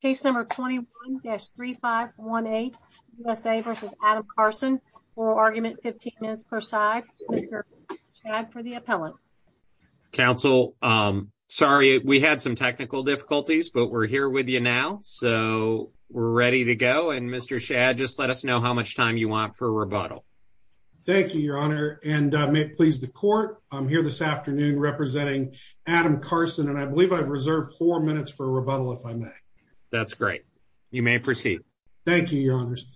Case number 21-3518, USA v. Adam Carson, oral argument 15 minutes per side. Mr. Shad for the appellant. Counsel, sorry we had some technical difficulties but we're here with you now so we're ready to go and Mr. Shad just let us know how much time you want for rebuttal. Thank you your honor and may it please the court I'm here this afternoon representing Adam Carson and I believe I've reserved four minutes for rebuttal if I may. That's great you may proceed. Thank you your honors.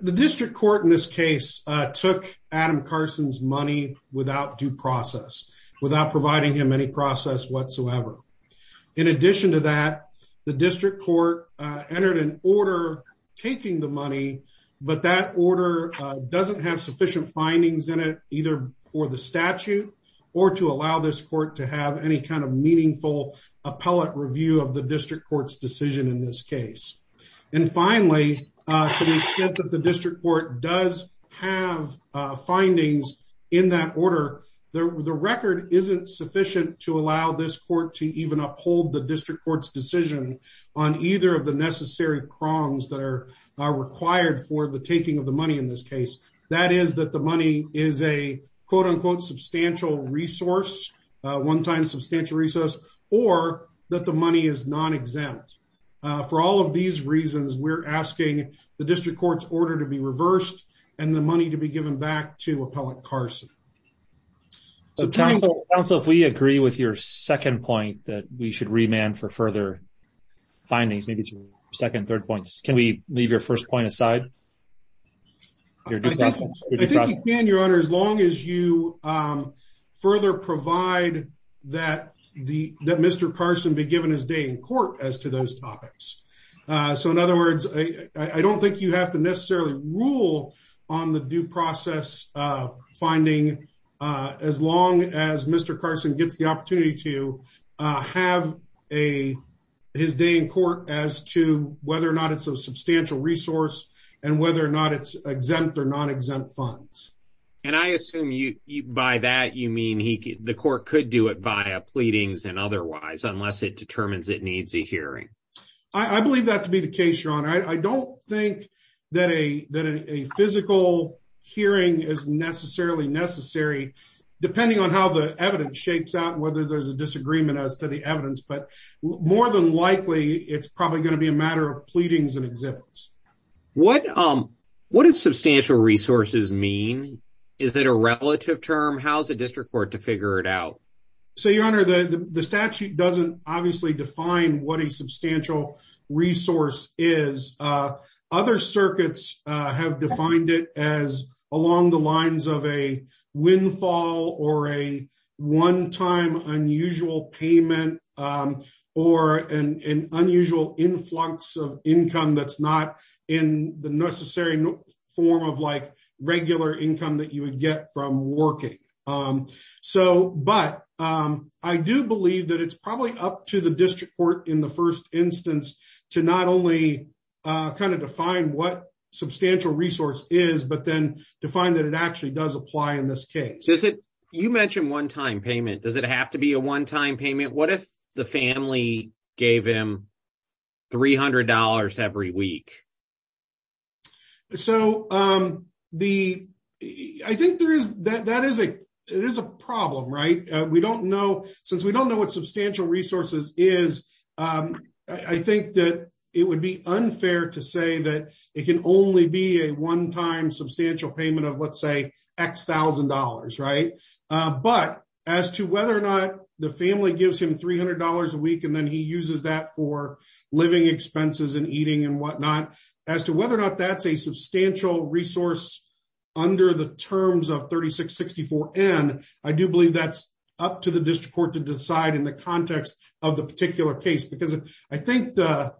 The district court in this case took Adam Carson's money without due process without providing him any process whatsoever. In addition to that the district court entered an order taking the money but that order doesn't have sufficient findings in it either for the statute or to allow this court to have any kind of meaningful appellate review of the district court's decision in this case. And finally to the extent that the district court does have findings in that order the record isn't sufficient to allow this court to even uphold the district court's decision on either of the necessary prongs that are required for the taking of the money in this case. That is that the money is a quote-unquote substantial resource one time substantial resource or that the money is non-exempt. For all of these reasons we're asking the district court's order to be reversed and the money to be given back to appellate Carson. So counsel if we agree with your second point that we should remand for further findings maybe to second third points can we leave your first point aside? I think you can your honor as long as you further provide that the that Mr. Carson be given his day in court as to those topics. So in other words I don't think you have to necessarily rule on the due process of finding as long as Mr. Carson gets the opportunity to have a his day in court as to whether or not it's a substantial resource and whether or not it's exempt or non-exempt funds. And I assume you by that you mean he the court could do it via pleadings and otherwise unless it determines it needs a hearing. I believe that to be the case your honor. I don't think that a that a physical hearing is necessarily necessary depending on how the evidence shakes out and whether there's a disagreement as to the evidence but more than likely it's probably going to be a matter of pleadings and exhibits. What does substantial resources mean? Is it a relative term? How's the district court to figure it out? So your honor the statute doesn't obviously define what a substantial resource is. Other circuits have defined it as along the lines of a windfall or a one-time unusual payment or an unusual influx of income that's not in the necessary form of like regular income that you would get from working. So but I do believe that it's probably up to the district court in the first instance to not only kind of define what substantial resource is but then define that it actually does apply in this case. Does it you mentioned one-time payment does it have to be a one-time payment? What if the family gave him three hundred dollars every week? So the I think there is that that is a it is a problem right? We don't know since we don't know what substantial resources is I think that it would be unfair to say that it can only be a one-time substantial payment of let's say x thousand dollars right? But as to whether or not the family gives him three hundred dollars a week and then he uses that for living expenses and eating and whatnot as to whether or not that's a substantial resource under the terms of 3664n. I do believe that's up to the district court to decide in the context of the particular case because I think the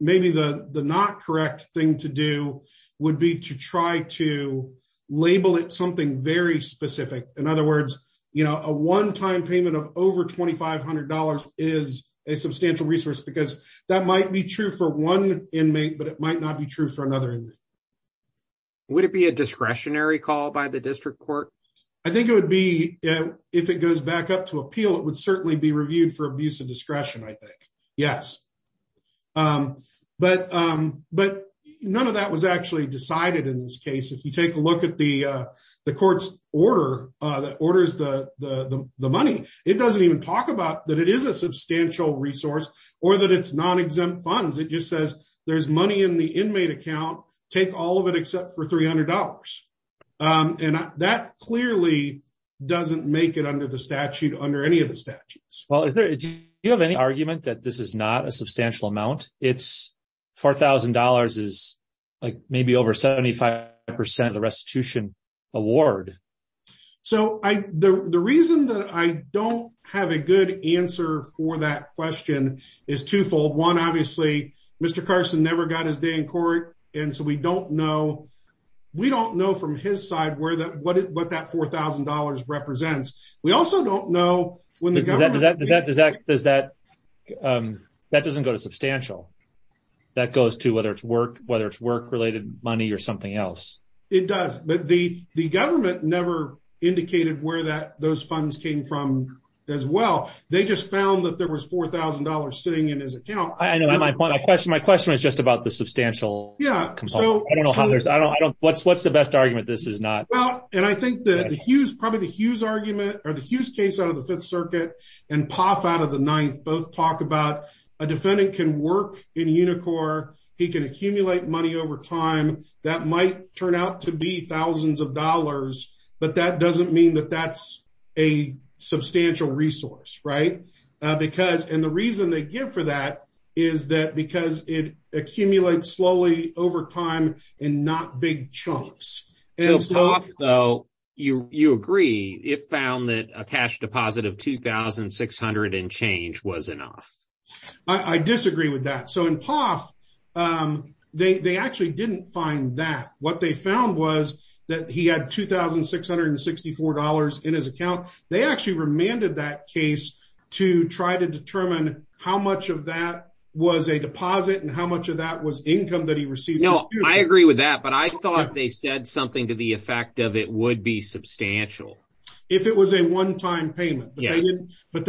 maybe the the not correct thing to do would be to try to label it something very specific. In other words you know a one-time payment of over twenty five hundred dollars is a substantial resource because that might be true for one inmate but it might not be true for another inmate. Would it be a discretionary call by the district court? I think it would be if it goes back up to appeal it would certainly be reviewed for abuse of discretion I think yes. But but none of that was actually decided in this case if you take a look at the the court's order that orders the the the money it doesn't even talk about that it is a substantial resource or that it's non-exempt funds it just says there's money in the inmate account take all of it except for three hundred dollars and that clearly doesn't make it under the statute under any of the statutes. Well do you have any argument that this is not a substantial amount it's four thousand dollars is like maybe over 75 percent of the restitution award? So I the the reason that I don't have a good answer for that question is twofold. One obviously Mr. Carson never got his day in court and so we don't know we don't know from his side where that what what that four thousand dollars represents. We also don't know when the government does that does that does that um that doesn't go to substantial that goes to whether it's work whether it's work related money or something else. It does but the the government never indicated where that those funds came from as well they just found that there was four thousand dollars sitting in his account. I know my point my question my question was just about the substantial yeah so I don't know how there's I don't I don't what's what's the best argument this is not? Well and I think that the Hughes probably the Hughes argument or the Hughes case out of the fifth circuit and Poff out of the ninth both talk about a defendant can work in Unicor he can accumulate money over time that might turn out to be thousands of dollars but that doesn't mean that that's a substantial resource right because and the reason they give for that is that because it accumulates slowly over time and not big chunks. So Poff though you you agree it found that a cash deposit of 2,600 and change was enough. I disagree with that so in Poff they they actually didn't find that what they found was that he had 2,664 dollars in his account they actually remanded that case to try to determine how much of that was a deposit and how much of that was income that he received. No I agree with that but I thought they said something to the effect of it would be substantial. If it was a one-time payment but they didn't but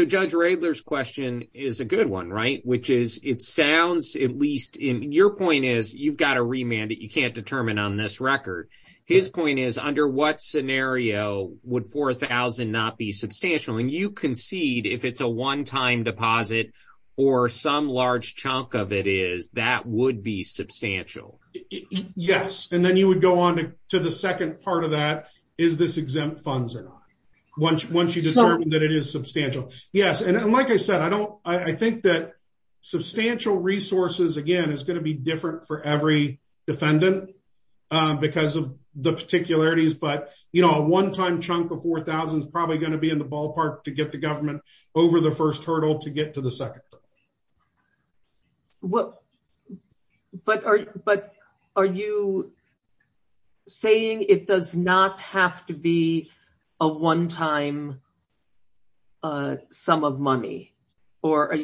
Judge Raebler's question is a good one right which is it sounds at least in your point is you've got a remand that you can't determine on this record. His point is under what scenario would 4,000 not be substantial and you concede if it's a one-time deposit or some large chunk of it is that would be substantial. Yes and then you would go on to the second part of that is this that it is substantial yes and like I said I don't I think that substantial resources again is going to be different for every defendant because of the particularities but you know a one-time chunk of 4,000 is probably going to be in the ballpark to get the government over the first hurdle to get to the second. But are you saying it does not have to be a one-time sum of money or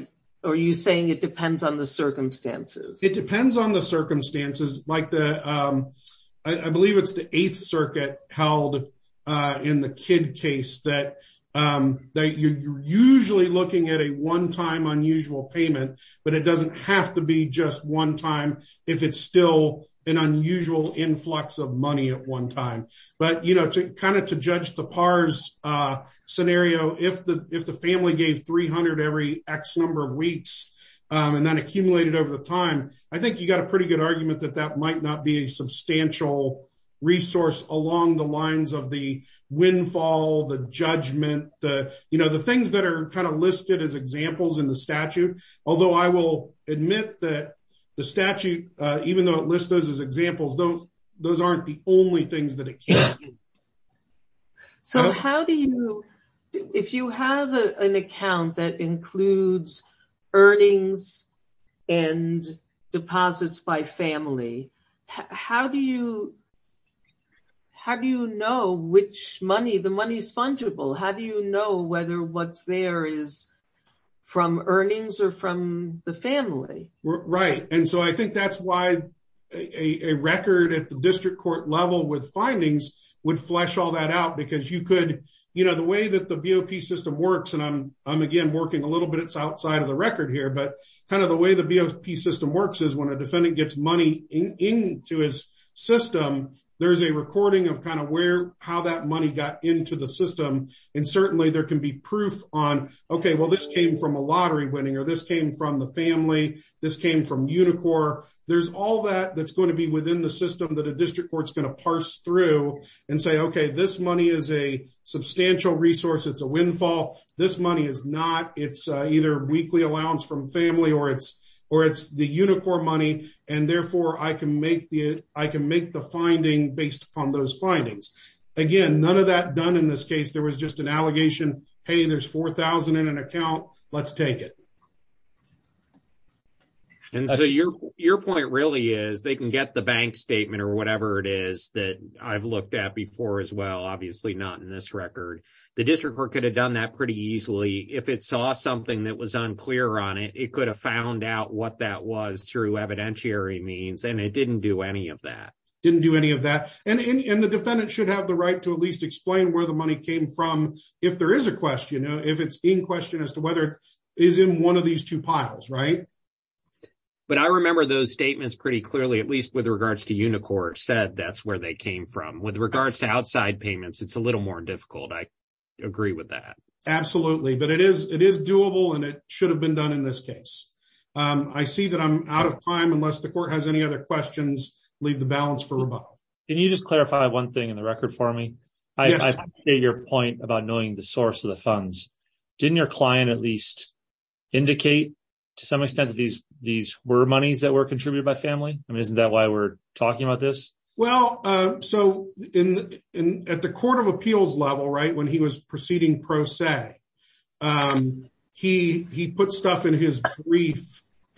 are you saying it depends on the circumstances? It depends on the circumstances like the I believe it's the eighth circuit held in the kid case that that you're usually looking at a one-time unusual payment but it doesn't have to be just one time if it's still an unusual influx of money at one time. But you know to kind of to judge the pars scenario if the if the family gave 300 every x number of weeks and then accumulated over the time I think you got a pretty good argument that that might not be a substantial resource along the lines of the windfall the judgment the you know the things that are kind of listed as examples in the statute although I will admit that the statute even though it lists those as examples those those aren't the only things that it can't do. So how do you if you have an account that includes earnings and deposits by family how do you how do you know which money the money is how do you know whether what's there is from earnings or from the family? Right and so I think that's why a record at the district court level with findings would flesh all that out because you could you know the way that the BOP system works and I'm again working a little bit it's outside of the record here but kind of the way the BOP system works is when a defendant gets money into his system there's a recording of kind of where how that money got into the system and certainly there can be proof on okay well this came from a lottery winning or this came from the family this came from Unicor there's all that that's going to be within the system that a district court's going to parse through and say okay this money is a substantial resource it's a windfall this money is not it's either weekly allowance from family or it's or it's Unicor money and therefore I can make the I can make the finding based upon those findings again none of that done in this case there was just an allegation hey there's four thousand in an account let's take it. And so your your point really is they can get the bank statement or whatever it is that I've looked at before as well obviously not in this record the district court could have done that pretty easily if it saw something that was unclear on it it could have found out what that was through evidentiary means and it didn't do any of that didn't do any of that and and the defendant should have the right to at least explain where the money came from if there is a question you know if it's in question as to whether it is in one of these two piles right but I remember those statements pretty clearly at least with regards to Unicor said that's where they came from with regards to outside payments it's a little more difficult I agree with that absolutely but it is it is doable and it should have been done in this case I see that I'm out of time unless the court has any other questions leave the balance for rebuttal can you just clarify one thing in the record for me I say your point about knowing the source of the funds didn't your client at least indicate to some extent that these these were monies that were contributed by family I mean isn't that why we're talking about this well so in in at the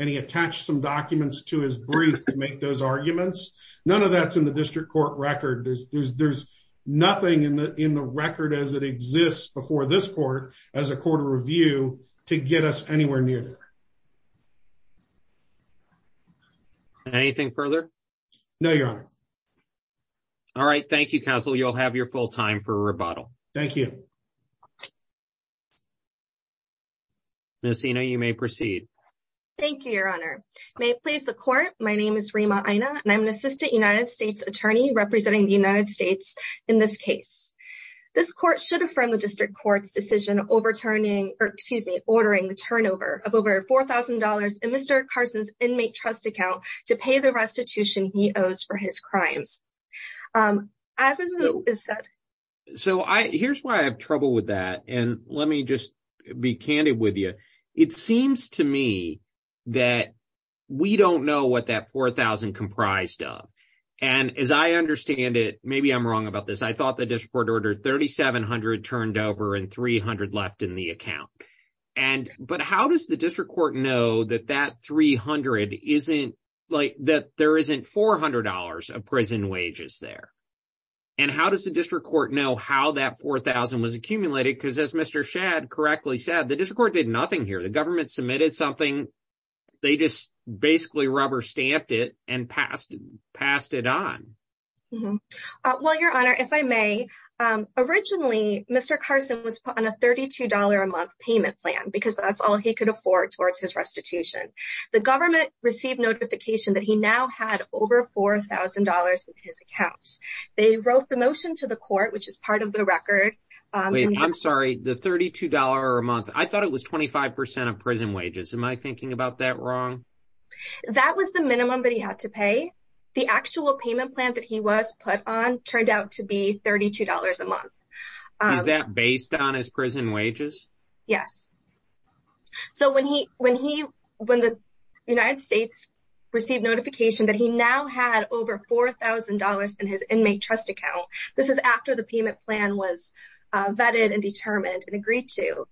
and he attached some documents to his brief to make those arguments none of that's in the district court record there's there's nothing in the in the record as it exists before this court as a court of review to get us anywhere near there anything further no your honor all right thank you counsel you'll have your full time for a rebuttal thank you Miss Hino you may proceed thank you your honor may it please the court my name is Rima Ina and I'm an assistant United States attorney representing the United States in this case this court should affirm the district court's decision overturning or excuse me ordering the turnover of over four thousand dollars in Mr. Carson's inmate trust account to pay the restitution he owes for his and let me just be candid with you it seems to me that we don't know what that four thousand comprised of and as I understand it maybe I'm wrong about this I thought the district order thirty seven hundred turned over and three hundred left in the account and but how does the district court know that that three hundred isn't like that there isn't four hundred dollars of prison wages there and how does the district court know how that four thousand was accumulated because as Mr. Shad correctly said the district court did nothing here the government submitted something they just basically rubber stamped it and passed passed it on well your honor if I may originally Mr. Carson was put on a thirty two dollar a month payment plan because that's all he could afford towards his restitution the government received notification that he now had over four thousand dollars in his accounts they wrote the motion to the court which is part of the record I'm sorry the thirty two dollar a month I thought it was twenty five percent of prison wages am I thinking about that wrong that was the minimum that he had to pay the actual payment plan that he was put on turned out to be thirty two dollars a month is that based on his prison wages yes so when he when he when the United States received notification that he now had over four thousand dollars in his inmate trust account this is after the payment plan was vetted and determined and agreed to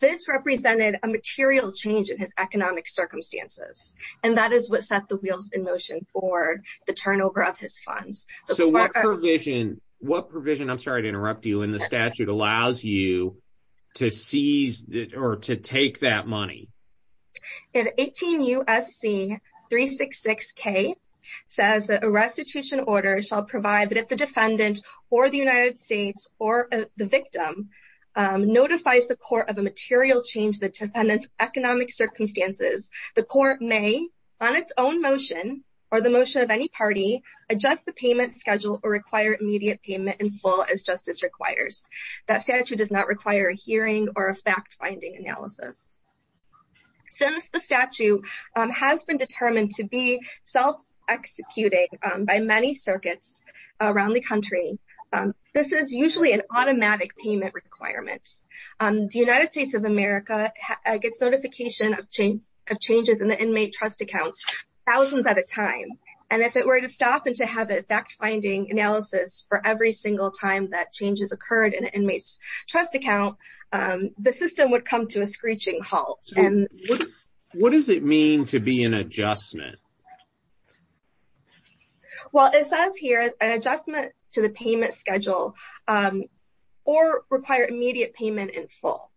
this represented a material change in his economic circumstances and that is what set the wheels in motion for the turnover of his funds so what provision what provision I'm sorry to interrupt you and the statute allows you to seize or to take that money in 18 usc 366 k says that a restitution order shall provide that if the defendant or the United States or the victim notifies the court of a material change the defendant's economic circumstances the court may on its own motion or the motion of any party adjust the payment schedule or require immediate payment in full as justice requires that statute does not require a hearing or a fact-finding analysis since the statute has been determined to be self-executing by many circuits around the country this is usually an automatic payment requirement the United States of America gets notification of change of changes in the inmate trust accounts thousands at a time and if it were to stop and to have a fact-finding analysis for every single time that changes occurred in an inmate's trust account the system would come to a screeching halt and what does it mean to be an adjustment well it says here an adjustment to the payment schedule or require immediate payment in full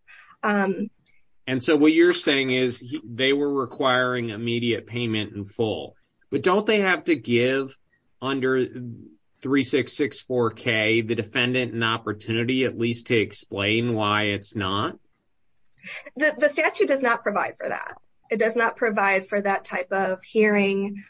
and so what you're saying is they were the defendant an opportunity at least to explain why it's not the statute does not provide for that it does not provide for that type of hearing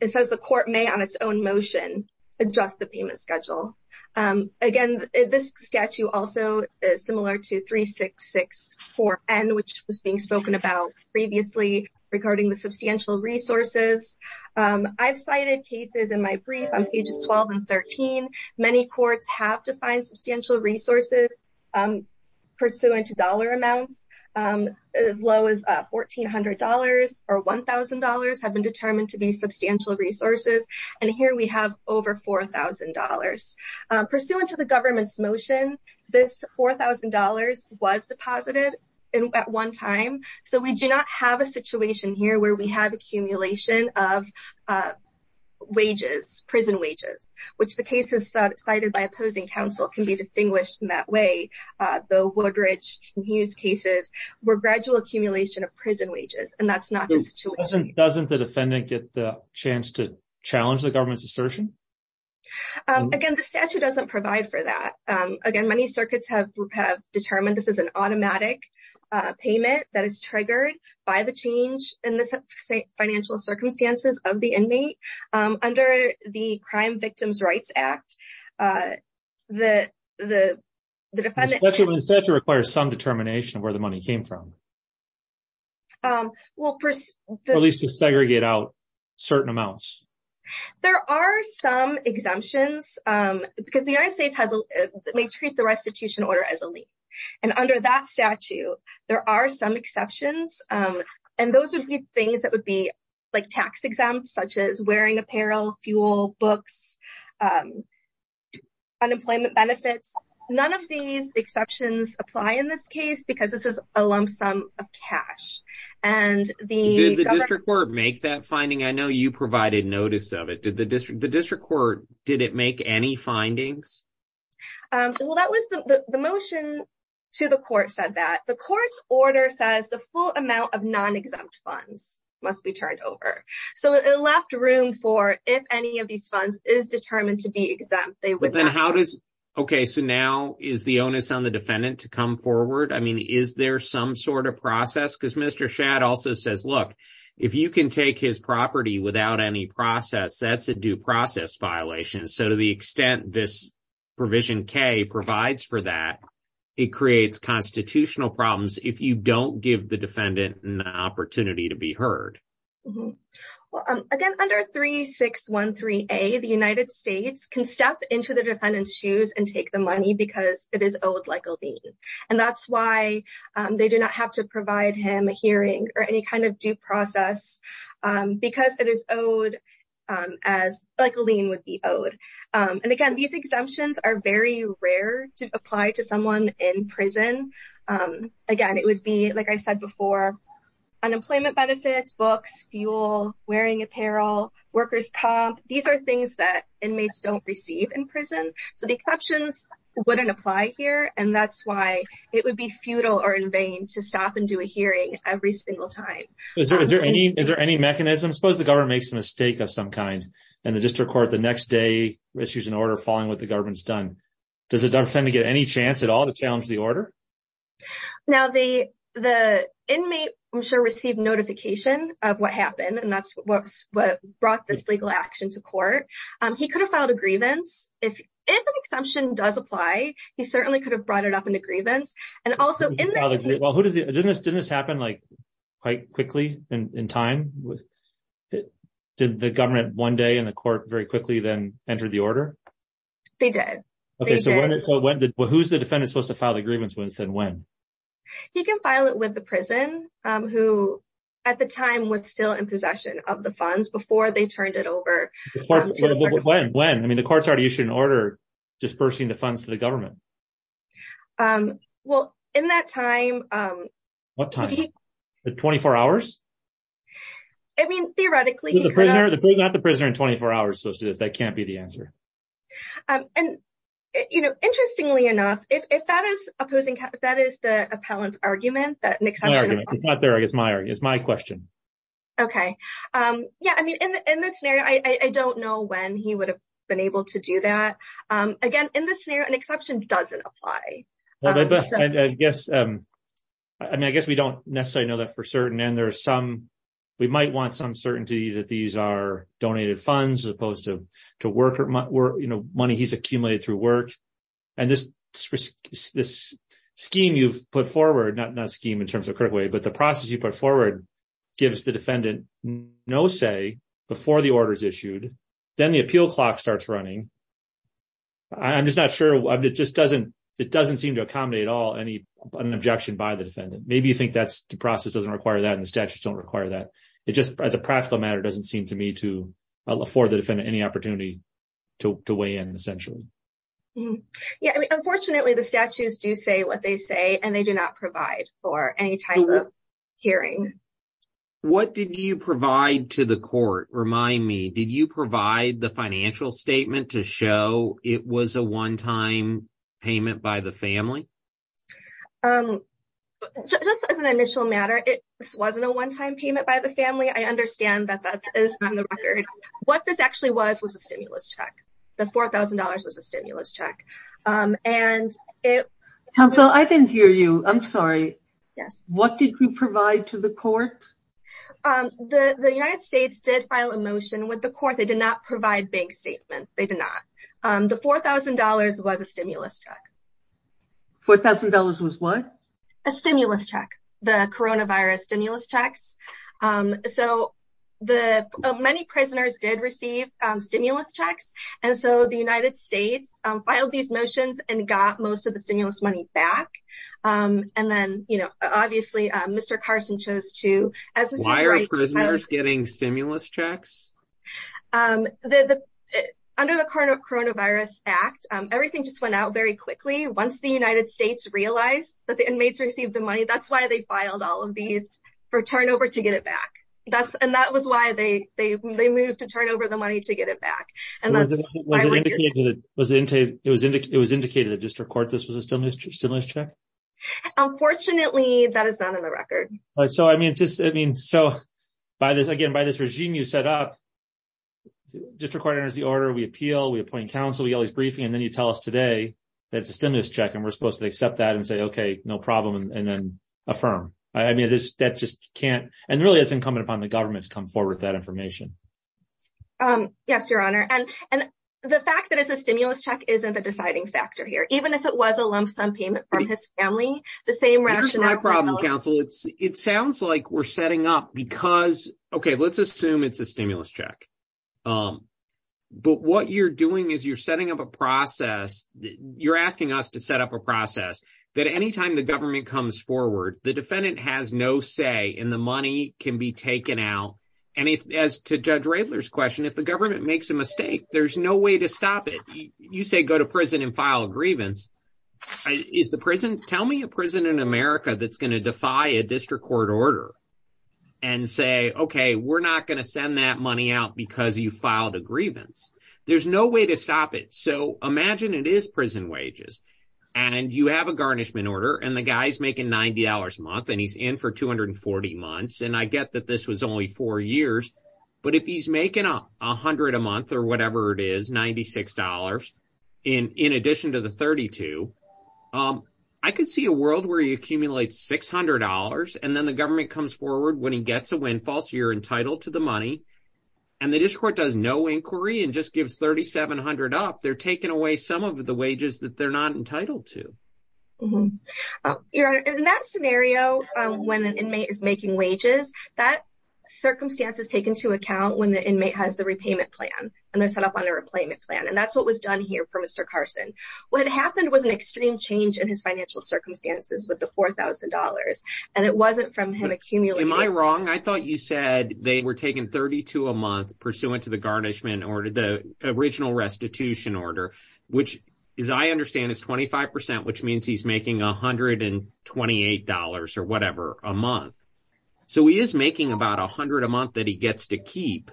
it says the court may on its own motion adjust the payment schedule again this statute also is similar to 366 4n which was being spoken about previously regarding the substantial resources i've cited cases in my brief on pages 12 and 13 courts have defined substantial resources pursuant to dollar amounts as low as $1,400 or $1,000 have been determined to be substantial resources and here we have over $4,000 pursuant to the government's motion this $4,000 was deposited in at one time so we do not have a situation here where we have cited by opposing counsel can be distinguished in that way the woodridge use cases were gradual accumulation of prison wages and that's not the situation doesn't the defendant get the chance to challenge the government's assertion again the statute doesn't provide for that again many circuits have have determined this is an automatic payment that is triggered by the change in the financial circumstances of the inmate under the crime victims rights act the the the defendant requires some determination where the money came from um well at least to segregate out certain amounts there are some exemptions um because the united states has may treat the restitution order as a leap and under that statute there are some exceptions um and those would be things that would be like tax exempts such as wearing apparel fuel books um unemployment benefits none of these exceptions apply in this case because this is a lump sum of cash and the district court make that finding i know you provided notice of it did the district the district court did it make any findings um well that was the the motion to the court said that the court's order says the full amount of non-exempt funds must be turned over so it left room for if any of these funds is determined to be exempt they would then how does okay so now is the onus on the defendant to come forward i mean is there some sort of process because mr shad also says look if you can take his property without any process that's a due violation so to the extent this provision k provides for that it creates constitutional problems if you don't give the defendant an opportunity to be heard well um again under three six one three a the united states can step into the defendant's shoes and take the money because it is owed like a lien and that's why um they do not have to provide him a hearing or any is owed um as like a lien would be owed um and again these exemptions are very rare to apply to someone in prison um again it would be like i said before unemployment benefits books fuel wearing apparel workers comp these are things that inmates don't receive in prison so the exceptions wouldn't apply here and that's why it would be futile or in vain to stop and do a hearing every single time is there any is there any mechanism suppose the government makes a mistake of some kind and the district court the next day issues an order following what the government's done does it defend to get any chance at all to challenge the order now the the inmate i'm sure received notification of what happened and that's what's what brought this legal action to court um he could have filed a grievance if if an exemption does apply he certainly could have brought it up and also didn't this didn't this happen like quite quickly and in time did the government one day in the court very quickly then entered the order they did okay so when did who's the defendant supposed to file the grievance when said when he can file it with the prison um who at the time was still in possession of the funds before they turned it over when when i mean the court's already issued an order dispersing the funds to the government um well in that time um what time the 24 hours i mean theoretically not the prisoner in 24 hours supposed to do this that can't be the answer um and you know interestingly enough if that is opposing that is the appellant's argument that an exception it's not there it's my it's my question okay um yeah i mean in in this scenario i i don't know when he would have been able to do that um in this scenario an exception doesn't apply i guess um i mean i guess we don't necessarily know that for certain and there are some we might want some certainty that these are donated funds as opposed to to work or you know money he's accumulated through work and this this scheme you've put forward not not scheme in terms of critical way but the process you put forward gives the defendant no say before the order is issued then the appeal clock starts running i'm just not sure it just doesn't it doesn't seem to accommodate all any an objection by the defendant maybe you think that's the process doesn't require that and the statutes don't require that it just as a practical matter doesn't seem to me to afford the defendant any opportunity to weigh in essentially yeah i mean unfortunately the statutes do say what they say and they do not provide for any type of hearing what did you provide to the court remind me did you provide the financial statement to show it was a one-time payment by the family um just as an initial matter it wasn't a one-time payment by the family i understand that that is on the record what this actually was was a stimulus check the four thousand dollars was a stimulus check um and it counsel i didn't hear you i'm sorry yes what did you provide to the court um the the united states did file a motion with the court they did not provide bank statements they did not um the four thousand dollars was a stimulus check four thousand dollars was what a stimulus check the coronavirus stimulus checks um so the many prisoners did receive um stimulus checks and so the united states um filed these motions and got most of the stimulus money back um and then you obviously um mr carson chose to as why are prisoners getting stimulus checks um the the under the coronavirus act um everything just went out very quickly once the united states realized that the inmates received the money that's why they filed all of these for turnover to get it back that's and that was why they they they moved to turn over the money to get it back and that's what it was it was indicated it was indicated it was indicated at district court this was a stimulus stimulus check unfortunately that is not on the record all right so i mean just i mean so by this again by this regime you set up district court enters the order we appeal we appoint counsel we always briefing and then you tell us today that's a stimulus check and we're supposed to accept that and say okay no problem and then affirm i mean this that just can't and really it's incumbent upon the government to come forward with that information um yes your honor and and the fact that it's a stimulus check isn't the deciding factor here even if it was a lump sum payment from his family the same rationale my problem counsel it's it sounds like we're setting up because okay let's assume it's a stimulus check um but what you're doing is you're setting up a process you're asking us to set up a process that anytime the government comes forward the defendant has no say and the money can be taken out and if as to judge rayler's question if the government makes a mistake there's no way to stop you say go to prison and file a grievance is the prison tell me a prison in america that's going to defy a district court order and say okay we're not going to send that money out because you filed a grievance there's no way to stop it so imagine it is prison wages and you have a garnishment order and the guy's making 90 a month and he's in for 240 months and i get that this was only four years but if he's making a hundred a month or whatever it is 96 dollars in in addition to the 32 um i could see a world where he accumulates 600 and then the government comes forward when he gets a windfall so you're entitled to the money and the district court does no inquiry and just gives 3700 up they're taking away some of the wages that they're not entitled to your honor in that scenario when an inmate is making wages that circumstance is taken to account when the inmate has the repayment plan and they're set up on a repayment plan and that's what was done here for mr carson what happened was an extreme change in his financial circumstances with the four thousand dollars and it wasn't from him accumulating my wrong i thought you said they were taking 32 a month pursuant to the garnishment order the original restitution order which as i understand is 25 which means he's making 128 or whatever a month so he is making about 100 a month that he gets to keep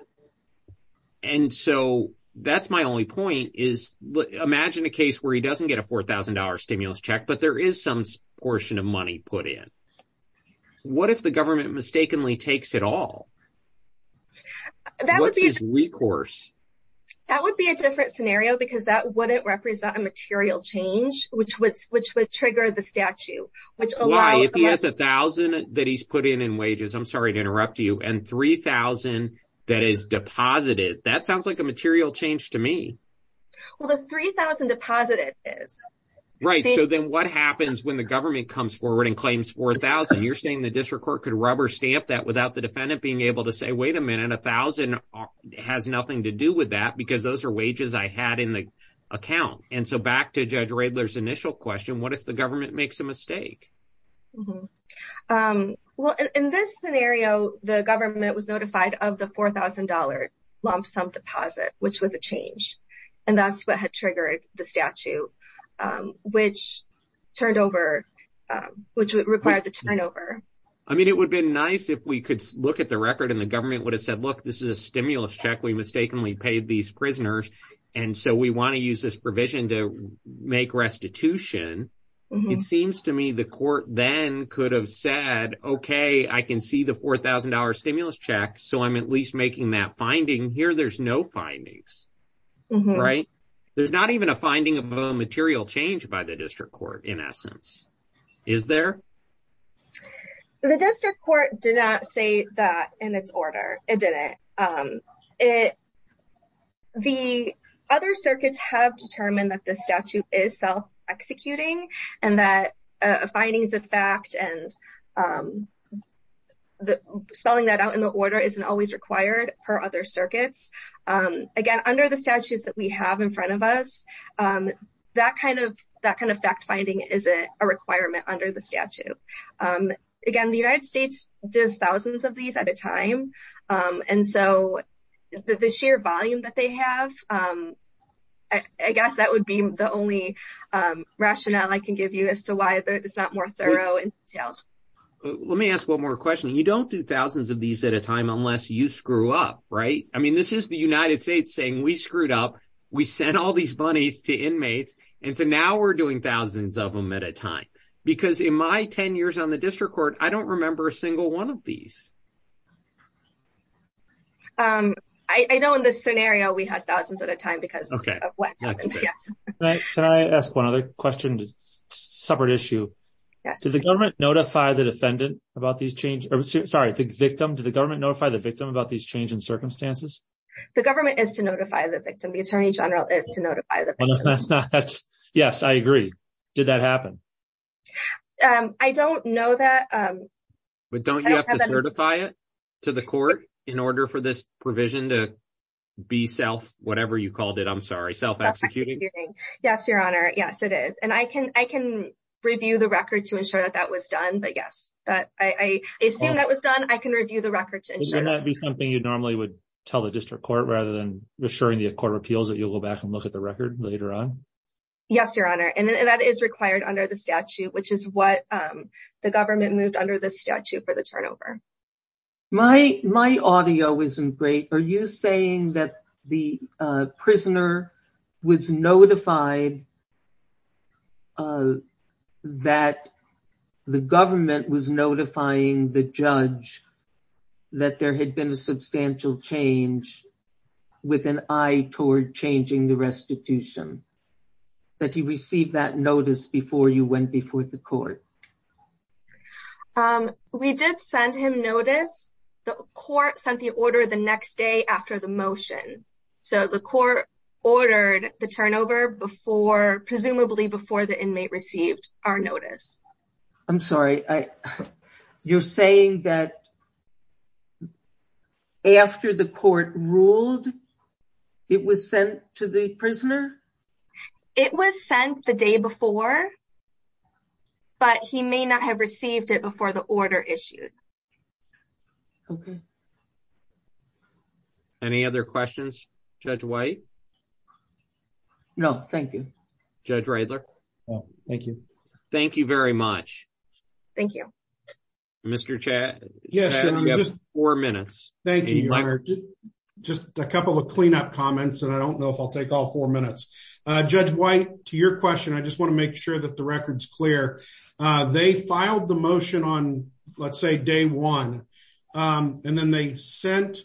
and so that's my only point is imagine a case where he doesn't get a four thousand dollar stimulus check but there is some portion of money put in what if the government mistakenly takes it all that was his recourse that would be a different scenario because that wouldn't represent a material change which would which would trigger the statute which allow if he has a thousand that he's put in in wages i'm sorry to interrupt you and three thousand that is deposited that sounds like a material change to me well the three thousand deposited is right so then what happens when the government comes forward and claims four thousand you're saying the district court could rubber stamp that without the defendant being able to say wait a minute a thousand has nothing to do with that because those are wages i had in the account and so back to judge radler's initial question what if the government makes a mistake well in this scenario the government was notified of the four thousand dollar lump sum deposit which was a change and that's what had triggered the statute which turned over which required the turnover i mean it would be nice if we could look at the record and the government would have said look this is a stimulus check we mistakenly paid these prisoners and so we want to use this provision to make restitution it seems to me the court then could have said okay i can see the four thousand dollar stimulus check so i'm at least making that findings right there's not even a finding of a material change by the district court in essence is there the district court did not say that in its order it didn't um it the other circuits have determined that this statute is self-executing and that uh findings of fact and um the spelling that out in the order isn't always required per other circuits um again under the statutes that we have in front of us um that kind of that kind of fact finding is a requirement under the statute um again the united states does thousands of these at a time um and so the sheer volume that they have um i guess that would be the only um rationale i can give you as to why it's not more thorough in detail let me ask one more question you don't do thousands of these at a time unless you screw up right i mean this is the united states saying we screwed up we sent all these bunnies to inmates and so now we're doing thousands of them at a time because in my 10 years on the district court i don't remember a single one of these um i know in this scenario we had thousands at a time because okay yes can i ask one other question separate issue yes did the government notify the defendant about these change or sorry the victim did the government notify the victim about these change in circumstances the government is to notify the victim the attorney general is to notify the yes i agree did that happen um i don't know that um but don't you have to certify it to the court in order for this provision to be self whatever you called it i'm sorry self executing yes your honor yes it is and i can i can review the record to ensure that that was done but yes but i i assume that was done i can review the record to ensure that would be something you normally would tell the district court rather than assuring the court of appeals that you'll go back and look at the record later on yes your honor and that is required under the statute which is what um the government moved under the statute for the turnover my my audio isn't great are you saying that the uh prisoner was notified uh that the government was notifying the judge that there had been a substantial change with an eye toward changing the restitution that he received that notice before you went before the court um we did send him notice the court sent the order the next day after the motion so the court ordered the turnover before presumably before the inmate received our notice i'm sorry i you're it was sent the day before but he may not have received it before the order issued okay any other questions judge white no thank you judge radler oh thank you thank you very much thank you mr chad yes you have four minutes thank you your honor just a couple of cleanup comments and i don't know if i'll take all four minutes uh judge white to your question i just want to make sure that the record's clear uh they filed the motion on let's say day one um and then they sent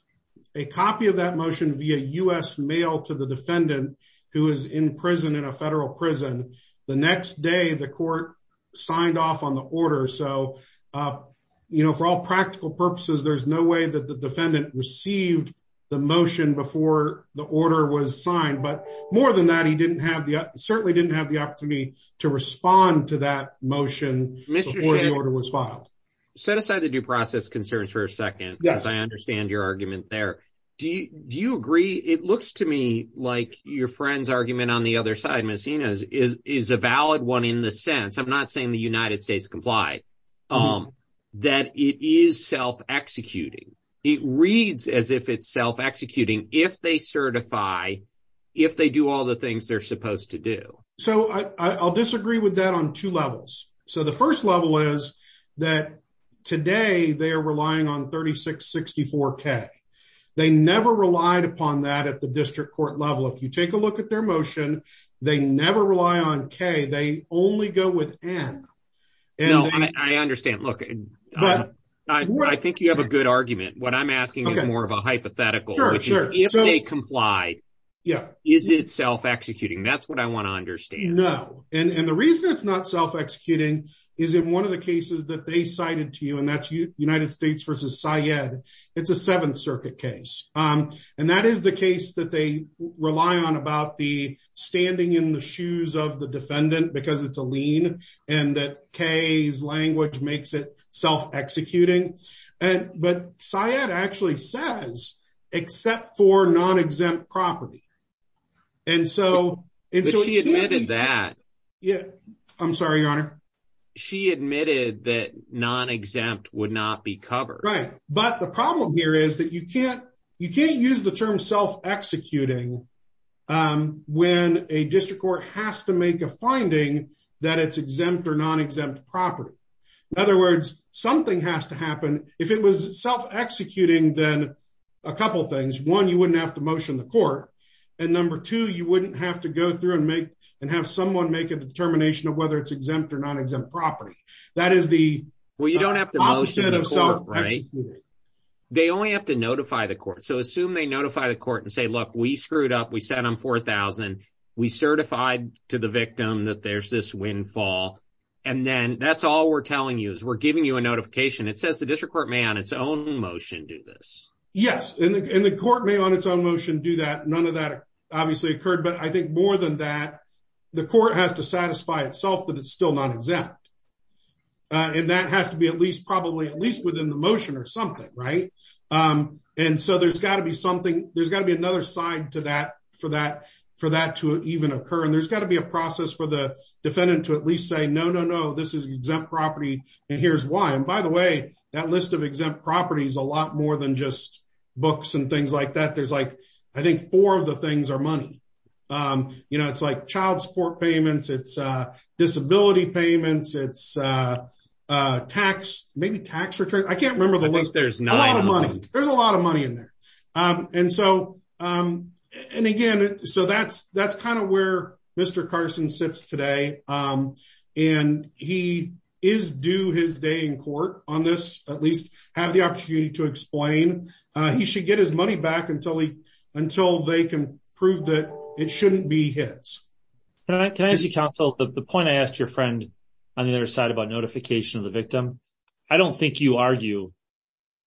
a copy of that motion via u.s mail to the defendant who is in prison in a federal prison the next day the court signed off on the order so uh you know for all practical purposes there's no received the motion before the order was signed but more than that he didn't have the certainly didn't have the opportunity to respond to that motion before the order was filed set aside the due process concerns for a second yes i understand your argument there do you do you agree it looks to me like your friend's argument on the other side missy knows is is a valid one in the sense i'm not saying the united states complied um that it is self-executing it reads as if it's self-executing if they certify if they do all the things they're supposed to do so i i'll disagree with that on two levels so the first level is that today they are relying on 36 64 k they never relied upon that at the district court level if you take a look at their motion they never rely on k they only go with n i understand look i think you have a good argument what i'm asking is more of a hypothetical if they comply yeah is it self-executing that's what i want to understand no and and the reason it's not self-executing is in one of the cases that they cited to you and that's united states versus syed it's a seventh circuit case um and that is the case that they rely on about the standing in the shoes of the defendant because it's a lean and that k's language makes it self-executing and but syed actually says except for non-exempt property and so if she admitted that yeah i'm sorry your honor she admitted that non-exempt would not be covered right but the problem here is that you can't you can't use the term self-executing um when a district court has to make a finding that it's exempt or non-exempt property in other words something has to happen if it was self-executing then a couple things one you wouldn't have to motion the court and number two you wouldn't have to go through and make and have someone make a determination of whether it's exempt or non-exempt property that is the well you don't have to motion of self-executing they only have to notify the court so assume they notify the court and say look we screwed up we sat on four thousand we certified to the victim that there's this windfall and then that's all we're telling you is we're giving you a notification it says the district court may on its own motion do this yes and the court may on its own motion do that none of that obviously occurred but i think more than that the court has to satisfy itself that it's still non-exempt uh and that has to be at least probably at least within the motion or something right um and so there's got to be something there's got to be another side to that for that for that to even occur and there's got to be a process for the defendant to at least say no no no this is exempt property and here's why and by the way that list of exempt properties a lot more than just books and things like that there's like i think four of the things are money um you know it's like child support payments it's uh tax maybe tax return i can't remember the list there's not a lot of money there's a lot of money in there um and so um and again so that's that's kind of where mr carson sits today um and he is due his day in court on this at least have the opportunity to explain uh he should get his money back until he until they can prove that it shouldn't be his can i can i ask you counsel the i don't think you argue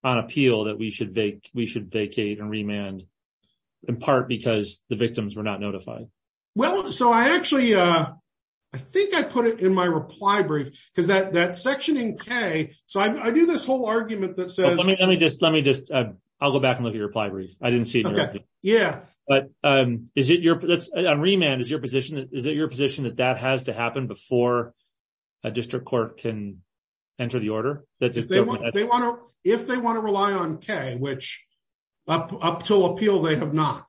on appeal that we should vacate we should vacate and remand in part because the victims were not notified well so i actually uh i think i put it in my reply brief because that that section in k so i do this whole argument that says let me just let me just uh i'll go back and look at your reply brief i didn't see it yeah but um is it your that's on remand is is it your position that that has to happen before a district court can enter the order that they want they want to if they want to rely on k which up up till appeal they have not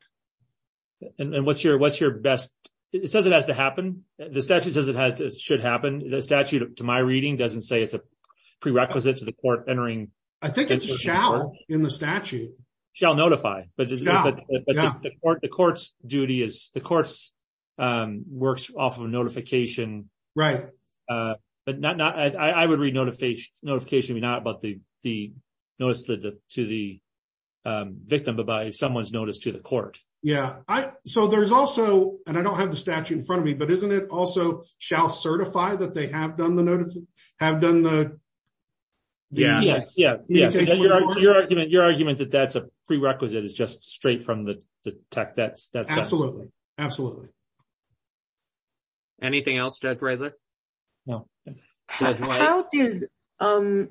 and what's your what's your best it says it has to happen the statute says it has to should happen the statute to my reading doesn't say it's a prerequisite to the court entering i think it's in the statute shall notify but the court the court's duty is the course um works off of notification right uh but not not i i would read notification notification not about the the notice to the to the um victim but by someone's notice to the court yeah i so there's also and i don't have the statute in front of me but isn't it also shall certify that they have done the notice have done the yeah yes yeah yeah your argument your argument that that's a prerequisite is just straight from the tech that's that's absolutely absolutely anything else judge raylor no how did um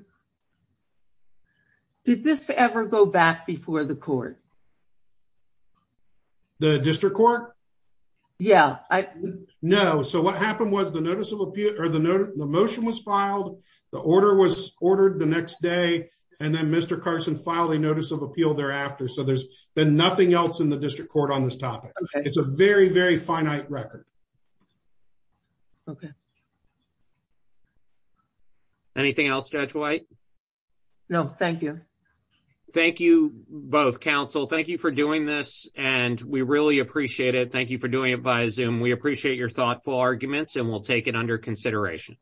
did this ever go back before the court the district court yeah i know so what happened was the notice of appeal or the the motion was filed the order was ordered the next day and then mr carson filed a notice of appeal thereafter so there's been nothing else in the district court on this topic it's a very very finite record okay anything else judge white no thank you thank you both counsel thank you for doing this and we really appreciate it thank you for doing it via zoom we appreciate your thoughtful arguments and we'll take it under consideration